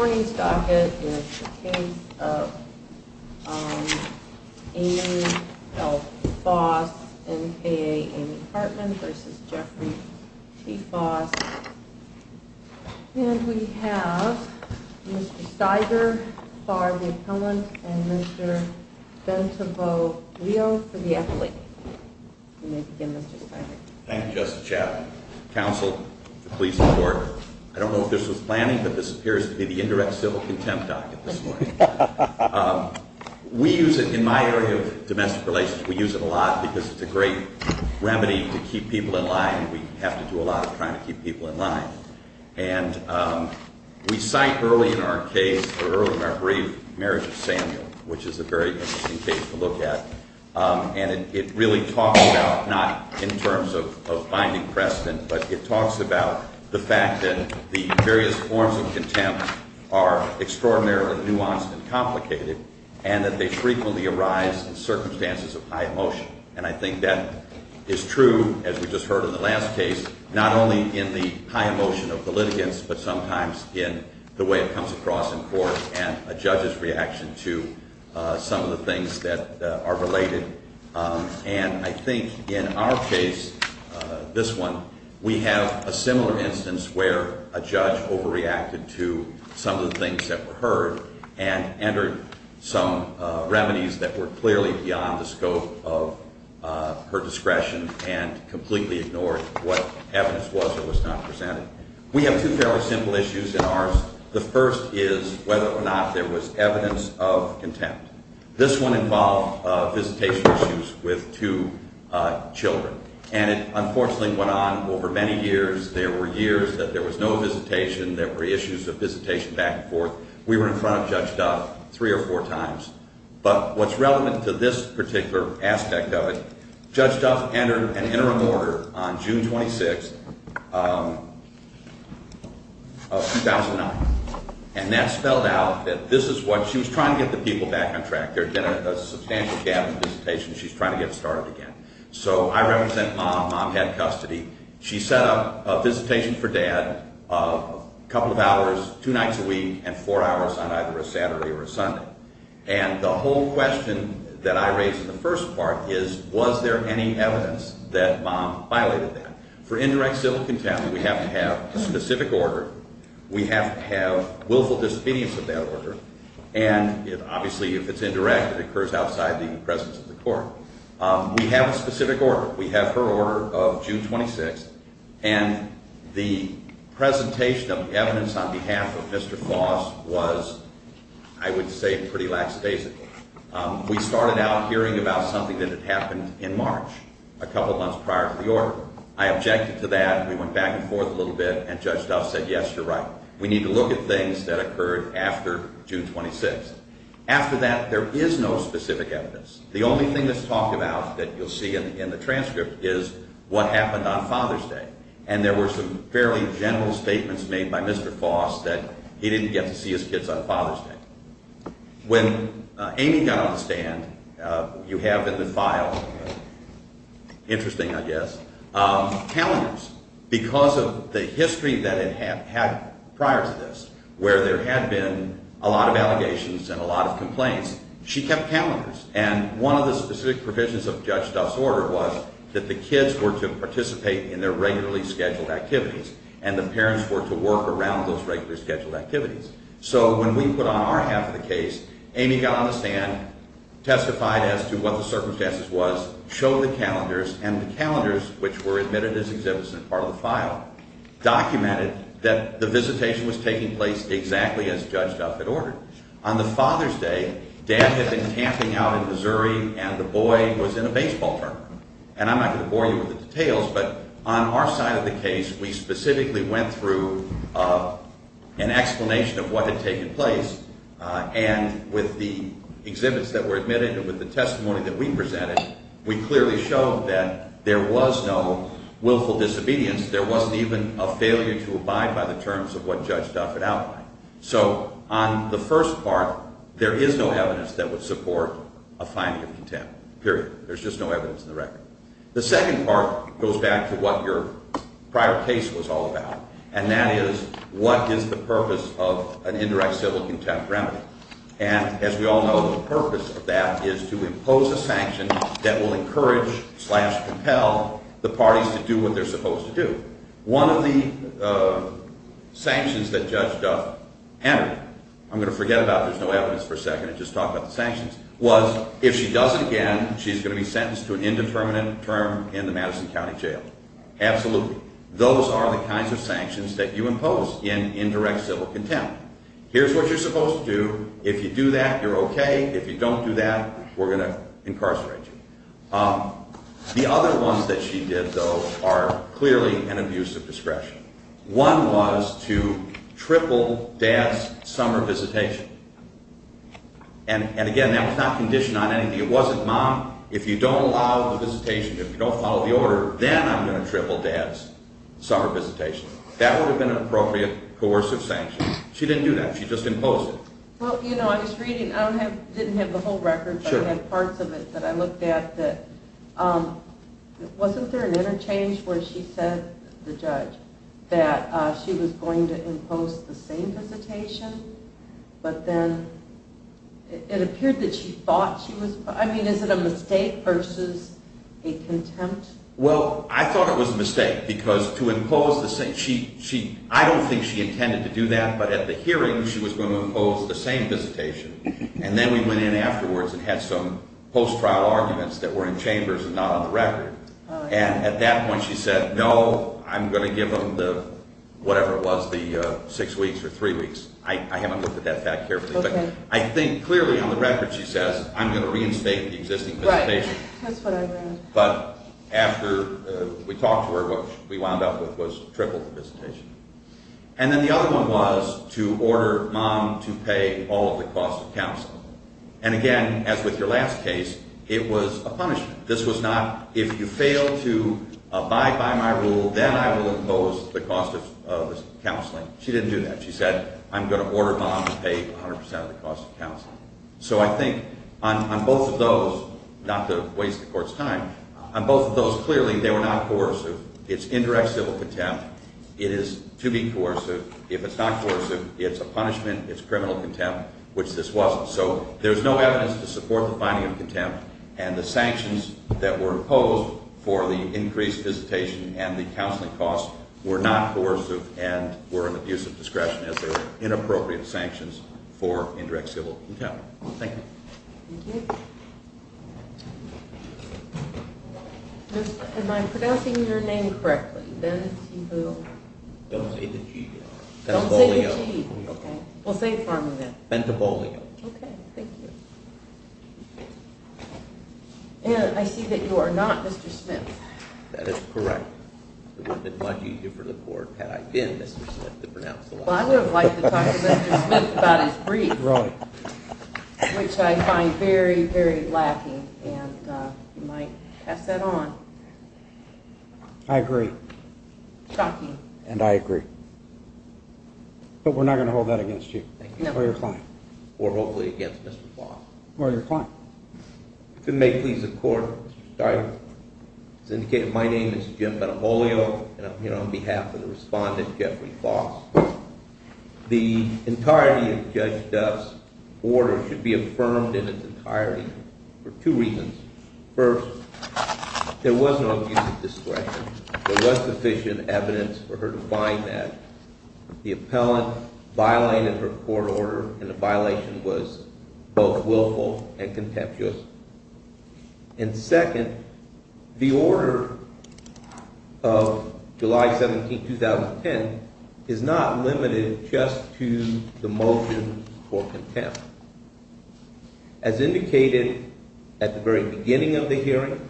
Morning's docket is the case of Amy L. Foss, N.K.A. Amy Hartman v. Geoffrey T. Foss. And we have Mr. Steiger for the appellant and Mr. Bentonville Leo for the appellate. Thank you, Justice Chappell. Counsel, please report. I don't know if this was planning, but this appears to be the indirect civil contempt docket this morning. We use it in my area of domestic relations. We use it a lot because it's a great remedy to keep people in line. We have to do a lot of trying to keep people in line. And we cite early in our case, or early in our brief, Marriage of Samuel, which is a very interesting case to look at. And it really talks about, not in terms of binding precedent, but it talks about the fact that the various forms of contempt are extraordinarily nuanced and complicated and that they frequently arise in circumstances of high emotion. And I think that is true, as we just heard in the last case, not only in the high emotion of the litigants, but sometimes in the way it comes across in court and a judge's reaction to some of the things that are related. And I think in our case, this one, we have a similar instance where a judge overreacted to some of the things that were heard and entered some remedies that were clearly beyond the scope of her discretion and completely ignored what evidence was or was not presented. We have two fairly simple issues in ours. The first is whether or not there was evidence of contempt. This one involved visitation issues with two children. And it unfortunately went on over many years. There were years that there was no visitation. There were issues of visitation back and forth. We were in front of Judge Duff three or four times. But what's relevant to this particular aspect of it, Judge Duff entered an interim order on June 26th of 2009. And that spelled out that this is what she was trying to get the people back on track. There had been a substantial gap in visitation. She's trying to get it started again. So I represent Mom. Mom had custody. She set up a visitation for Dad of a couple of hours, two nights a week, and four hours on either a Saturday or a Sunday. And the whole question that I raised in the first part is, was there any evidence that Mom violated that? For indirect civil contempt, we have to have a specific order. We have to have willful disobedience of that order. And obviously, if it's indirect, it occurs outside the presence of the court. We have a specific order. We have her order of June 26th. And the presentation of evidence on behalf of Mr. Foss was, I would say, pretty lackadaisical. We started out hearing about something that had happened in March, a couple months prior to the order. I objected to that. We went back and forth a little bit, and Judge Duff said, yes, you're right. We need to look at things that occurred after June 26th. After that, there is no specific evidence. The only thing that's talked about that you'll see in the transcript is what happened on Father's Day. And there were some fairly general statements made by Mr. Foss that he didn't get to see his kids on Father's Day. When Amy got on the stand, you have in the file, interesting, I guess, calendars. Because of the history that it had had prior to this, where there had been a lot of allegations and a lot of complaints, she kept calendars. And one of the specific provisions of Judge Duff's order was that the kids were to participate in their regularly scheduled activities and the parents were to work around those regularly scheduled activities. So when we put on our half of the case, Amy got on the stand, testified as to what the circumstances was, showed the calendars, and the calendars, which were admitted as exhibits in part of the file, documented that the visitation was taking place exactly as Judge Duff had ordered. On the Father's Day, Dad had been camping out in Missouri and the boy was in a baseball tournament. And I'm not going to bore you with the details, but on our side of the case, we specifically went through an explanation of what had taken place. And with the exhibits that were admitted and with the testimony that we presented, we clearly showed that there was no willful disobedience. There wasn't even a failure to abide by the terms of what Judge Duff had outlined. So on the first part, there is no evidence that would support a finding of contempt, period. There's just no evidence in the record. The second part goes back to what your prior case was all about, and that is what is the purpose of an indirect civil contempt remedy. And as we all know, the purpose of that is to impose a sanction that will encourage slash compel the parties to do what they're supposed to do. One of the sanctions that Judge Duff entered, I'm going to forget about there's no evidence for a second and just talk about the sanctions, was if she does it again, she's going to be sentenced to an indeterminate term in the Madison County Jail. Absolutely. Those are the kinds of sanctions that you impose in indirect civil contempt. Here's what you're supposed to do. If you do that, you're okay. If you don't do that, we're going to incarcerate you. The other ones that she did, though, are clearly an abuse of discretion. One was to triple Dad's summer visitation. And again, that was not conditioned on anything. It wasn't, Mom, if you don't allow the visitation, if you don't follow the order, then I'm going to triple Dad's summer visitation. That would have been an appropriate coercive sanction. She didn't do that. She just imposed it. Well, you know, I was reading. I didn't have the whole record, but I had parts of it that I looked at Wasn't there an interchange where she said, the judge, that she was going to impose the same visitation? But then it appeared that she thought she was. I mean, is it a mistake versus a contempt? Well, I thought it was a mistake because to impose the same. I don't think she intended to do that. But at the hearing, she was going to impose the same visitation. And then we went in afterwards and had some post-trial arguments that were in chambers and not on the record. And at that point, she said, no, I'm going to give them the whatever it was, the six weeks or three weeks. I haven't looked at that fact carefully. But I think clearly on the record, she says, I'm going to reinstate the existing visitation. Right. That's what I read. But after we talked to her, what we wound up with was triple the visitation. And then the other one was to order mom to pay all of the cost of counseling. And again, as with your last case, it was a punishment. This was not, if you fail to abide by my rule, then I will impose the cost of counseling. She didn't do that. She said, I'm going to order mom to pay 100% of the cost of counseling. So I think on both of those, not to waste the court's time, on both of those, clearly, they were not coercive. It's indirect civil contempt. It is to be coercive. If it's not coercive, it's a punishment. It's criminal contempt, which this wasn't. So there's no evidence to support the finding of contempt. And the sanctions that were imposed for the increased visitation and the counseling cost were not coercive and were an abuse of discretion as they were inappropriate sanctions for indirect civil contempt. Thank you. Thank you. Mr. Smith, am I pronouncing your name correctly? Don't say the G. Don't say the G. Okay. Well, say it for me then. Bentabolio. Okay. Thank you. And I see that you are not Mr. Smith. That is correct. The one that might be due for the court had I been Mr. Smith to pronounce the last name. Well, I would have liked to talk to Mr. Smith about his brief, which I find very, very lacking. And you might pass that on. I agree. And I agree. But we're not going to hold that against you or your client. Or hopefully against Mr. Foss. Or your client. If it may please the court, it's indicated my name is Jim Bentabolio. And I'm here on behalf of the respondent, Jeffrey Foss. The entirety of Judge Duff's order should be affirmed in its entirety for two reasons. First, there was no abuse of discretion. There was sufficient evidence for her to find that. The appellant violated her court order, and the violation was both willful and contemptuous. And second, the order of July 17, 2010, is not limited just to the motion for contempt. As indicated at the very beginning of the hearing,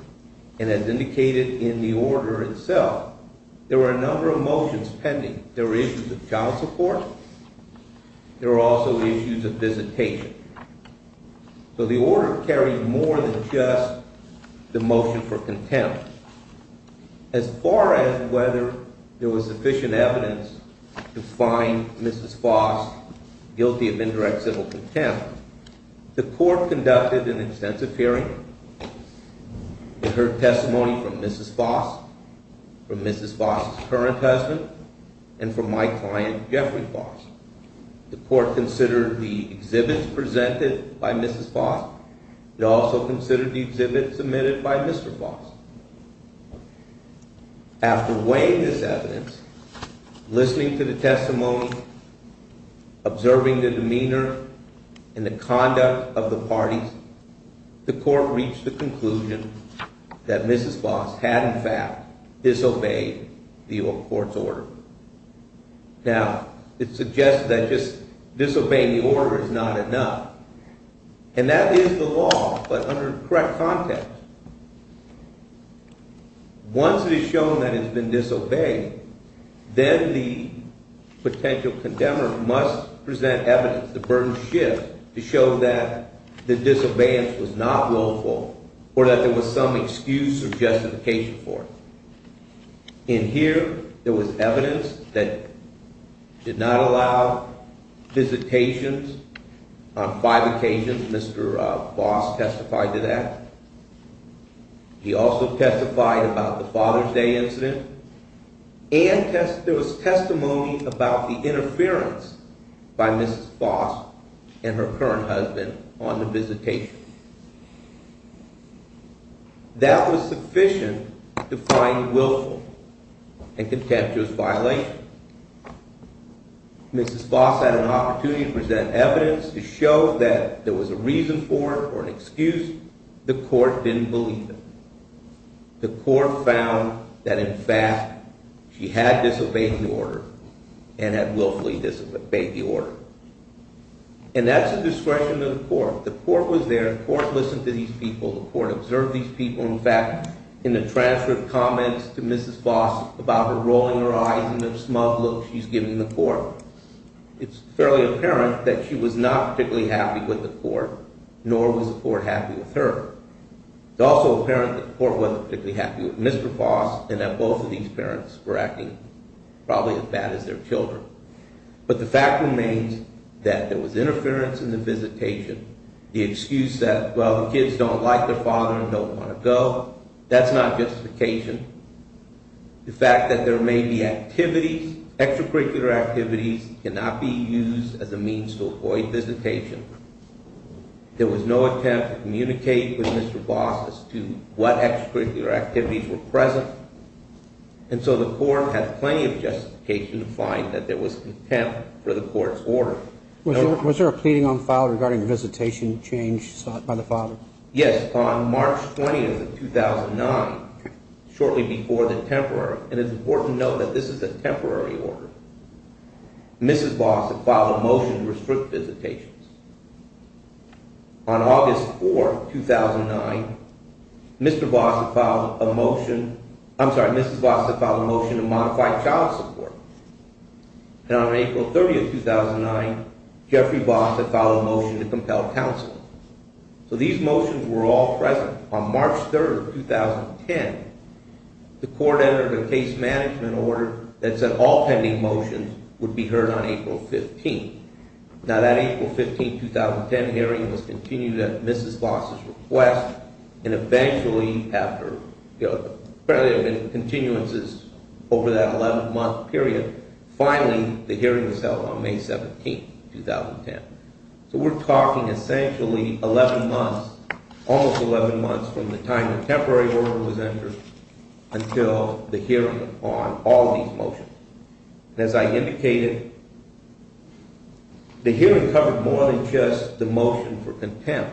and as indicated in the order itself, there were a number of motions pending. There were issues of child support. There were also issues of visitation. So the order carried more than just the motion for contempt. As far as whether there was sufficient evidence to find Mrs. Foss guilty of indirect civil contempt, the court conducted an extensive hearing. It heard testimony from Mrs. Foss, from Mrs. Foss' current husband, and from my client, Jeffrey Foss. The court considered the exhibits presented by Mrs. Foss. It also considered the exhibits submitted by Mr. Foss. After weighing this evidence, listening to the testimony, observing the demeanor and the conduct of the parties, the court reached the conclusion that Mrs. Foss had, in fact, disobeyed the court's order. Now, it suggests that just disobeying the order is not enough. And that is the law, but under the correct context. Once it is shown that it has been disobeyed, then the potential condemner must present evidence, the burden shift, to show that the disobedience was not willful or that there was some excuse or justification for it. In here, there was evidence that did not allow visitations. On five occasions, Mr. Foss testified to that. He also testified about the Father's Day incident. And there was testimony about the interference by Mrs. Foss and her current husband on the visitation. That was sufficient to find willful and contemptuous violation. Mrs. Foss had an opportunity to present evidence to show that there was a reason for it or an excuse. The court didn't believe it. The court found that, in fact, she had disobeyed the order and had willfully disobeyed the order. And that's a discretion of the court. The court was there. The court listened to these people. The court observed these people. In fact, in the transcript comments to Mrs. Foss about her rolling her eyes and the smug look she's giving the court, it's fairly apparent that she was not particularly happy with the court, nor was the court happy with her. It's also apparent that the court wasn't particularly happy with Mr. Foss and that both of these parents were acting probably as bad as their children. But the fact remains that there was interference in the visitation. The excuse that, well, the kids don't like their father and don't want to go, that's not justification. The fact that there may be activities, extracurricular activities cannot be used as a means to avoid visitation. There was no attempt to communicate with Mr. Foss as to what extracurricular activities were present. And so the court had plenty of justification to find that there was contempt for the court's order. Was there a pleading on file regarding the visitation change sought by the father? Yes, on March 20th of 2009, shortly before the temporary, and it's important to note that this is a temporary order. Mrs. Foss had filed a motion to restrict visitations. On August 4th, 2009, Mr. Foss had filed a motion, I'm sorry, Mrs. Foss had filed a motion to modify child support. And on April 30th, 2009, Jeffrey Foss had filed a motion to compel counsel. So these motions were all present. On March 3rd, 2010, the court entered a case management order that said all pending motions would be heard on April 15th. Now that April 15th, 2010 hearing was continued at Mrs. Foss' request. And eventually, apparently there have been continuances over that 11-month period, finally the hearing was held on May 17th, 2010. So we're talking essentially 11 months, almost 11 months from the time the temporary order was entered until the hearing on all these motions. As I indicated, the hearing covered more than just the motion for contempt.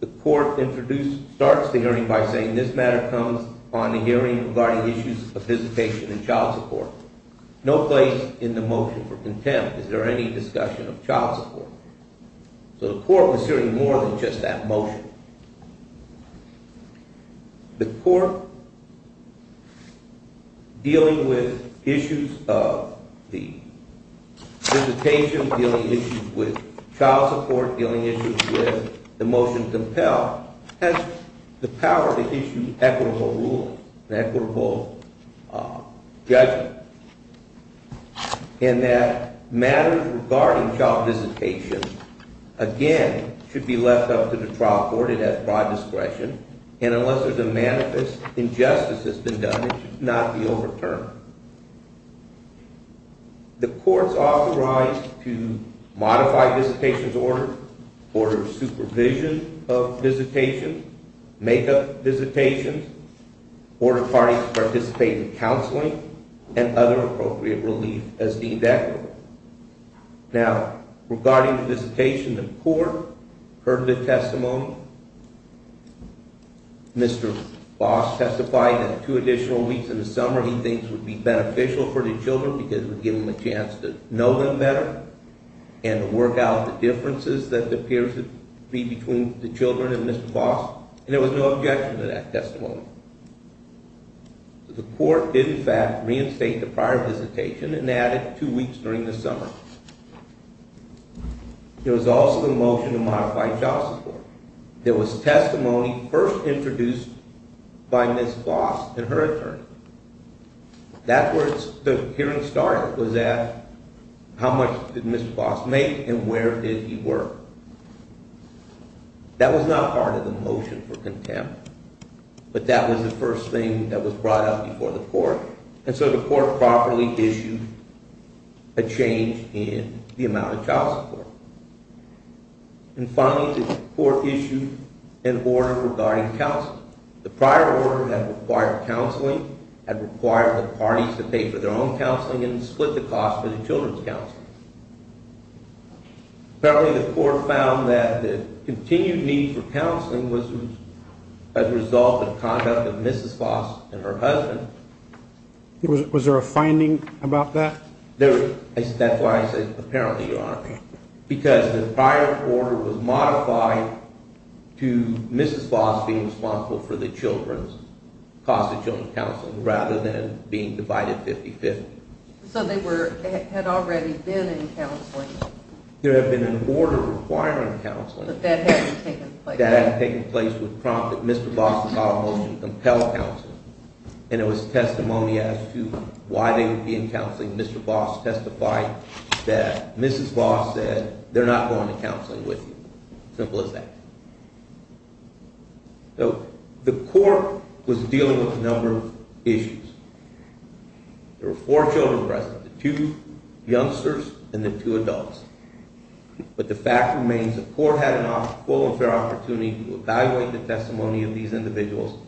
The court introduced, starts the hearing by saying this matter comes upon the hearing regarding issues of visitation and child support. No place in the motion for contempt. Is there any discussion of child support? So the court was hearing more than just that motion. The court, dealing with issues of the visitation, dealing issues with child support, dealing issues with the motion to compel, has the power to issue equitable ruling, an equitable judgment. And that matters regarding child visitation, again, should be left up to the trial court. It has broad discretion. And unless there's a manifest injustice that's been done, it should not be overturned. The court's authorized to modify visitation's order, order supervision of visitation, make up visitation, order parties to participate in counseling, and other appropriate relief as deemed equitable. Now, regarding the visitation, the court heard the testimony. Mr. Boss testified that two additional weeks in the summer he thinks would be beneficial for the children because it would give them a chance to know them better and to work out the differences that appears to be between the children and Mr. Boss. And there was no objection to that testimony. The court did, in fact, reinstate the prior visitation and added two weeks during the summer. There was also the motion to modify child support. There was testimony first introduced by Ms. Boss and her attorney. That's where the hearing started, was at how much did Mr. Boss make and where did he work. That was not part of the motion for contempt, but that was the first thing that was brought up before the court. And so the court properly issued a change in the amount of child support. And finally, the court issued an order regarding counseling. The prior order had required counseling, had required the parties to pay for their own counseling, and split the cost for the children's counseling. Apparently the court found that the continued need for counseling was a result of conduct of Mrs. Boss and her husband. Was there a finding about that? That's why I said apparently, Your Honor. Because the prior order was modified to Mrs. Boss being responsible for the children's, cost of children's counseling, rather than being divided 50-50. So they had already been in counseling? There had been an order requiring counseling. But that hadn't taken place? That hadn't taken place would prompt that Mr. Boss would file a motion to compel counseling. And it was testimony as to why they would be in counseling. Mr. Boss testified that Mrs. Boss said, they're not going to counseling with you. Simple as that. So the court was dealing with a number of issues. There were four children present, the two youngsters and the two adults. But the fact remains the court had a full and fair opportunity to evaluate the testimony of these individuals.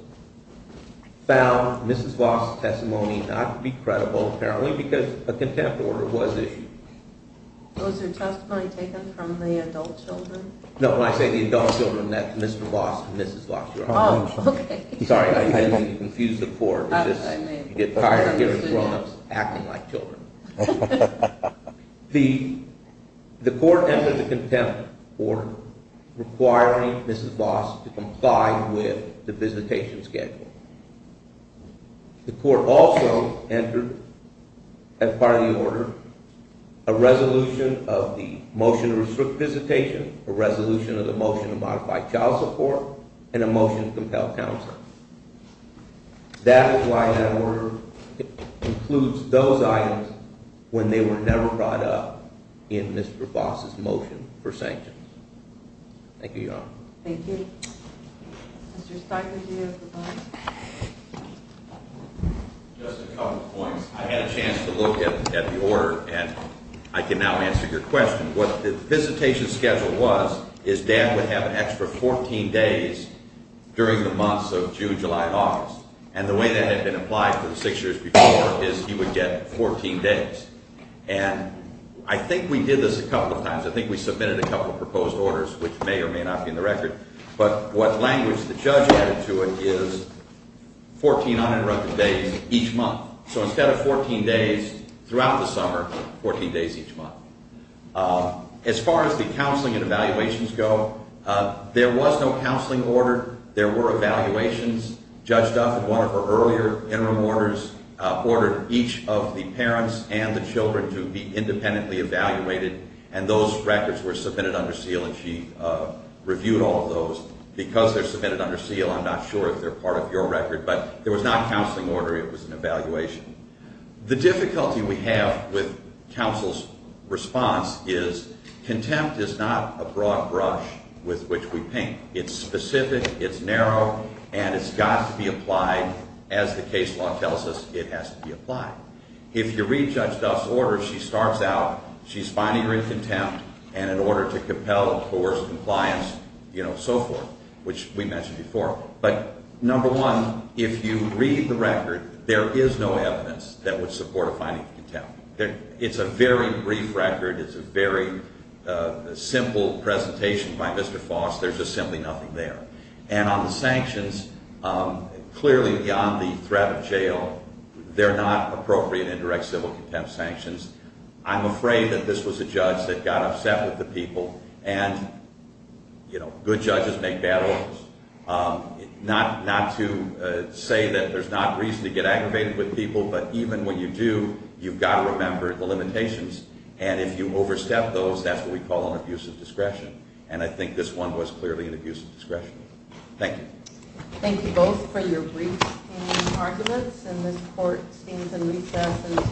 Found Mrs. Boss' testimony not to be credible apparently because a contempt order was issued. Was her testimony taken from the adult children? No, when I say the adult children, that's Mr. Boss and Mrs. Boss, Your Honor. Oh, okay. Sorry, I didn't mean to confuse the court. You get tired of hearing grownups acting like children. The court entered the contempt order requiring Mrs. Boss to comply with the visitation schedule. The court also entered as part of the order a resolution of the motion to restrict visitation, a resolution of the motion to modify child support, and a motion to compel counseling. That is why that order includes those items when they were never brought up in Mr. Boss' motion for sanctions. Thank you, Your Honor. Thank you. Mr. Steinberg, do you have a comment? Just a couple points. I had a chance to look at the order, and I can now answer your question. What the visitation schedule was is Dad would have an extra 14 days during the months of June, July, and August. And the way that had been applied for the six years before is he would get 14 days. And I think we did this a couple of times. I think we submitted a couple of proposed orders, which may or may not be in the record. But what language the judge added to it is 14 uninterrupted days each month. So instead of 14 days throughout the summer, 14 days each month. As far as the counseling and evaluations go, there was no counseling order. There were evaluations. Judge Duff, in one of her earlier interim orders, ordered each of the parents and the children to be independently evaluated. And those records were submitted under seal, and she reviewed all of those. Because they're submitted under seal, I'm not sure if they're part of your record. But there was not a counseling order. It was an evaluation. The difficulty we have with counsel's response is contempt is not a broad brush with which we paint. It's specific. It's narrow. And it's got to be applied. As the case law tells us, it has to be applied. If you read Judge Duff's order, she starts out, she's finding her in contempt. And in order to compel, of course, compliance, you know, so forth, which we mentioned before. But number one, if you read the record, there is no evidence that would support a finding of contempt. It's a very brief record. It's a very simple presentation by Mr. Foss. There's just simply nothing there. And on the sanctions, clearly beyond the threat of jail, they're not appropriate indirect civil contempt sanctions. I'm afraid that this was a judge that got upset with the people. And, you know, good judges make bad orders. Not to say that there's not reason to get aggravated with people. But even when you do, you've got to remember the limitations. And if you overstep those, that's what we call an abuse of discretion. And I think this one was clearly an abuse of discretion. Thank you. Thank you both for your brief arguments. And this court stands in recess until 11 a.m.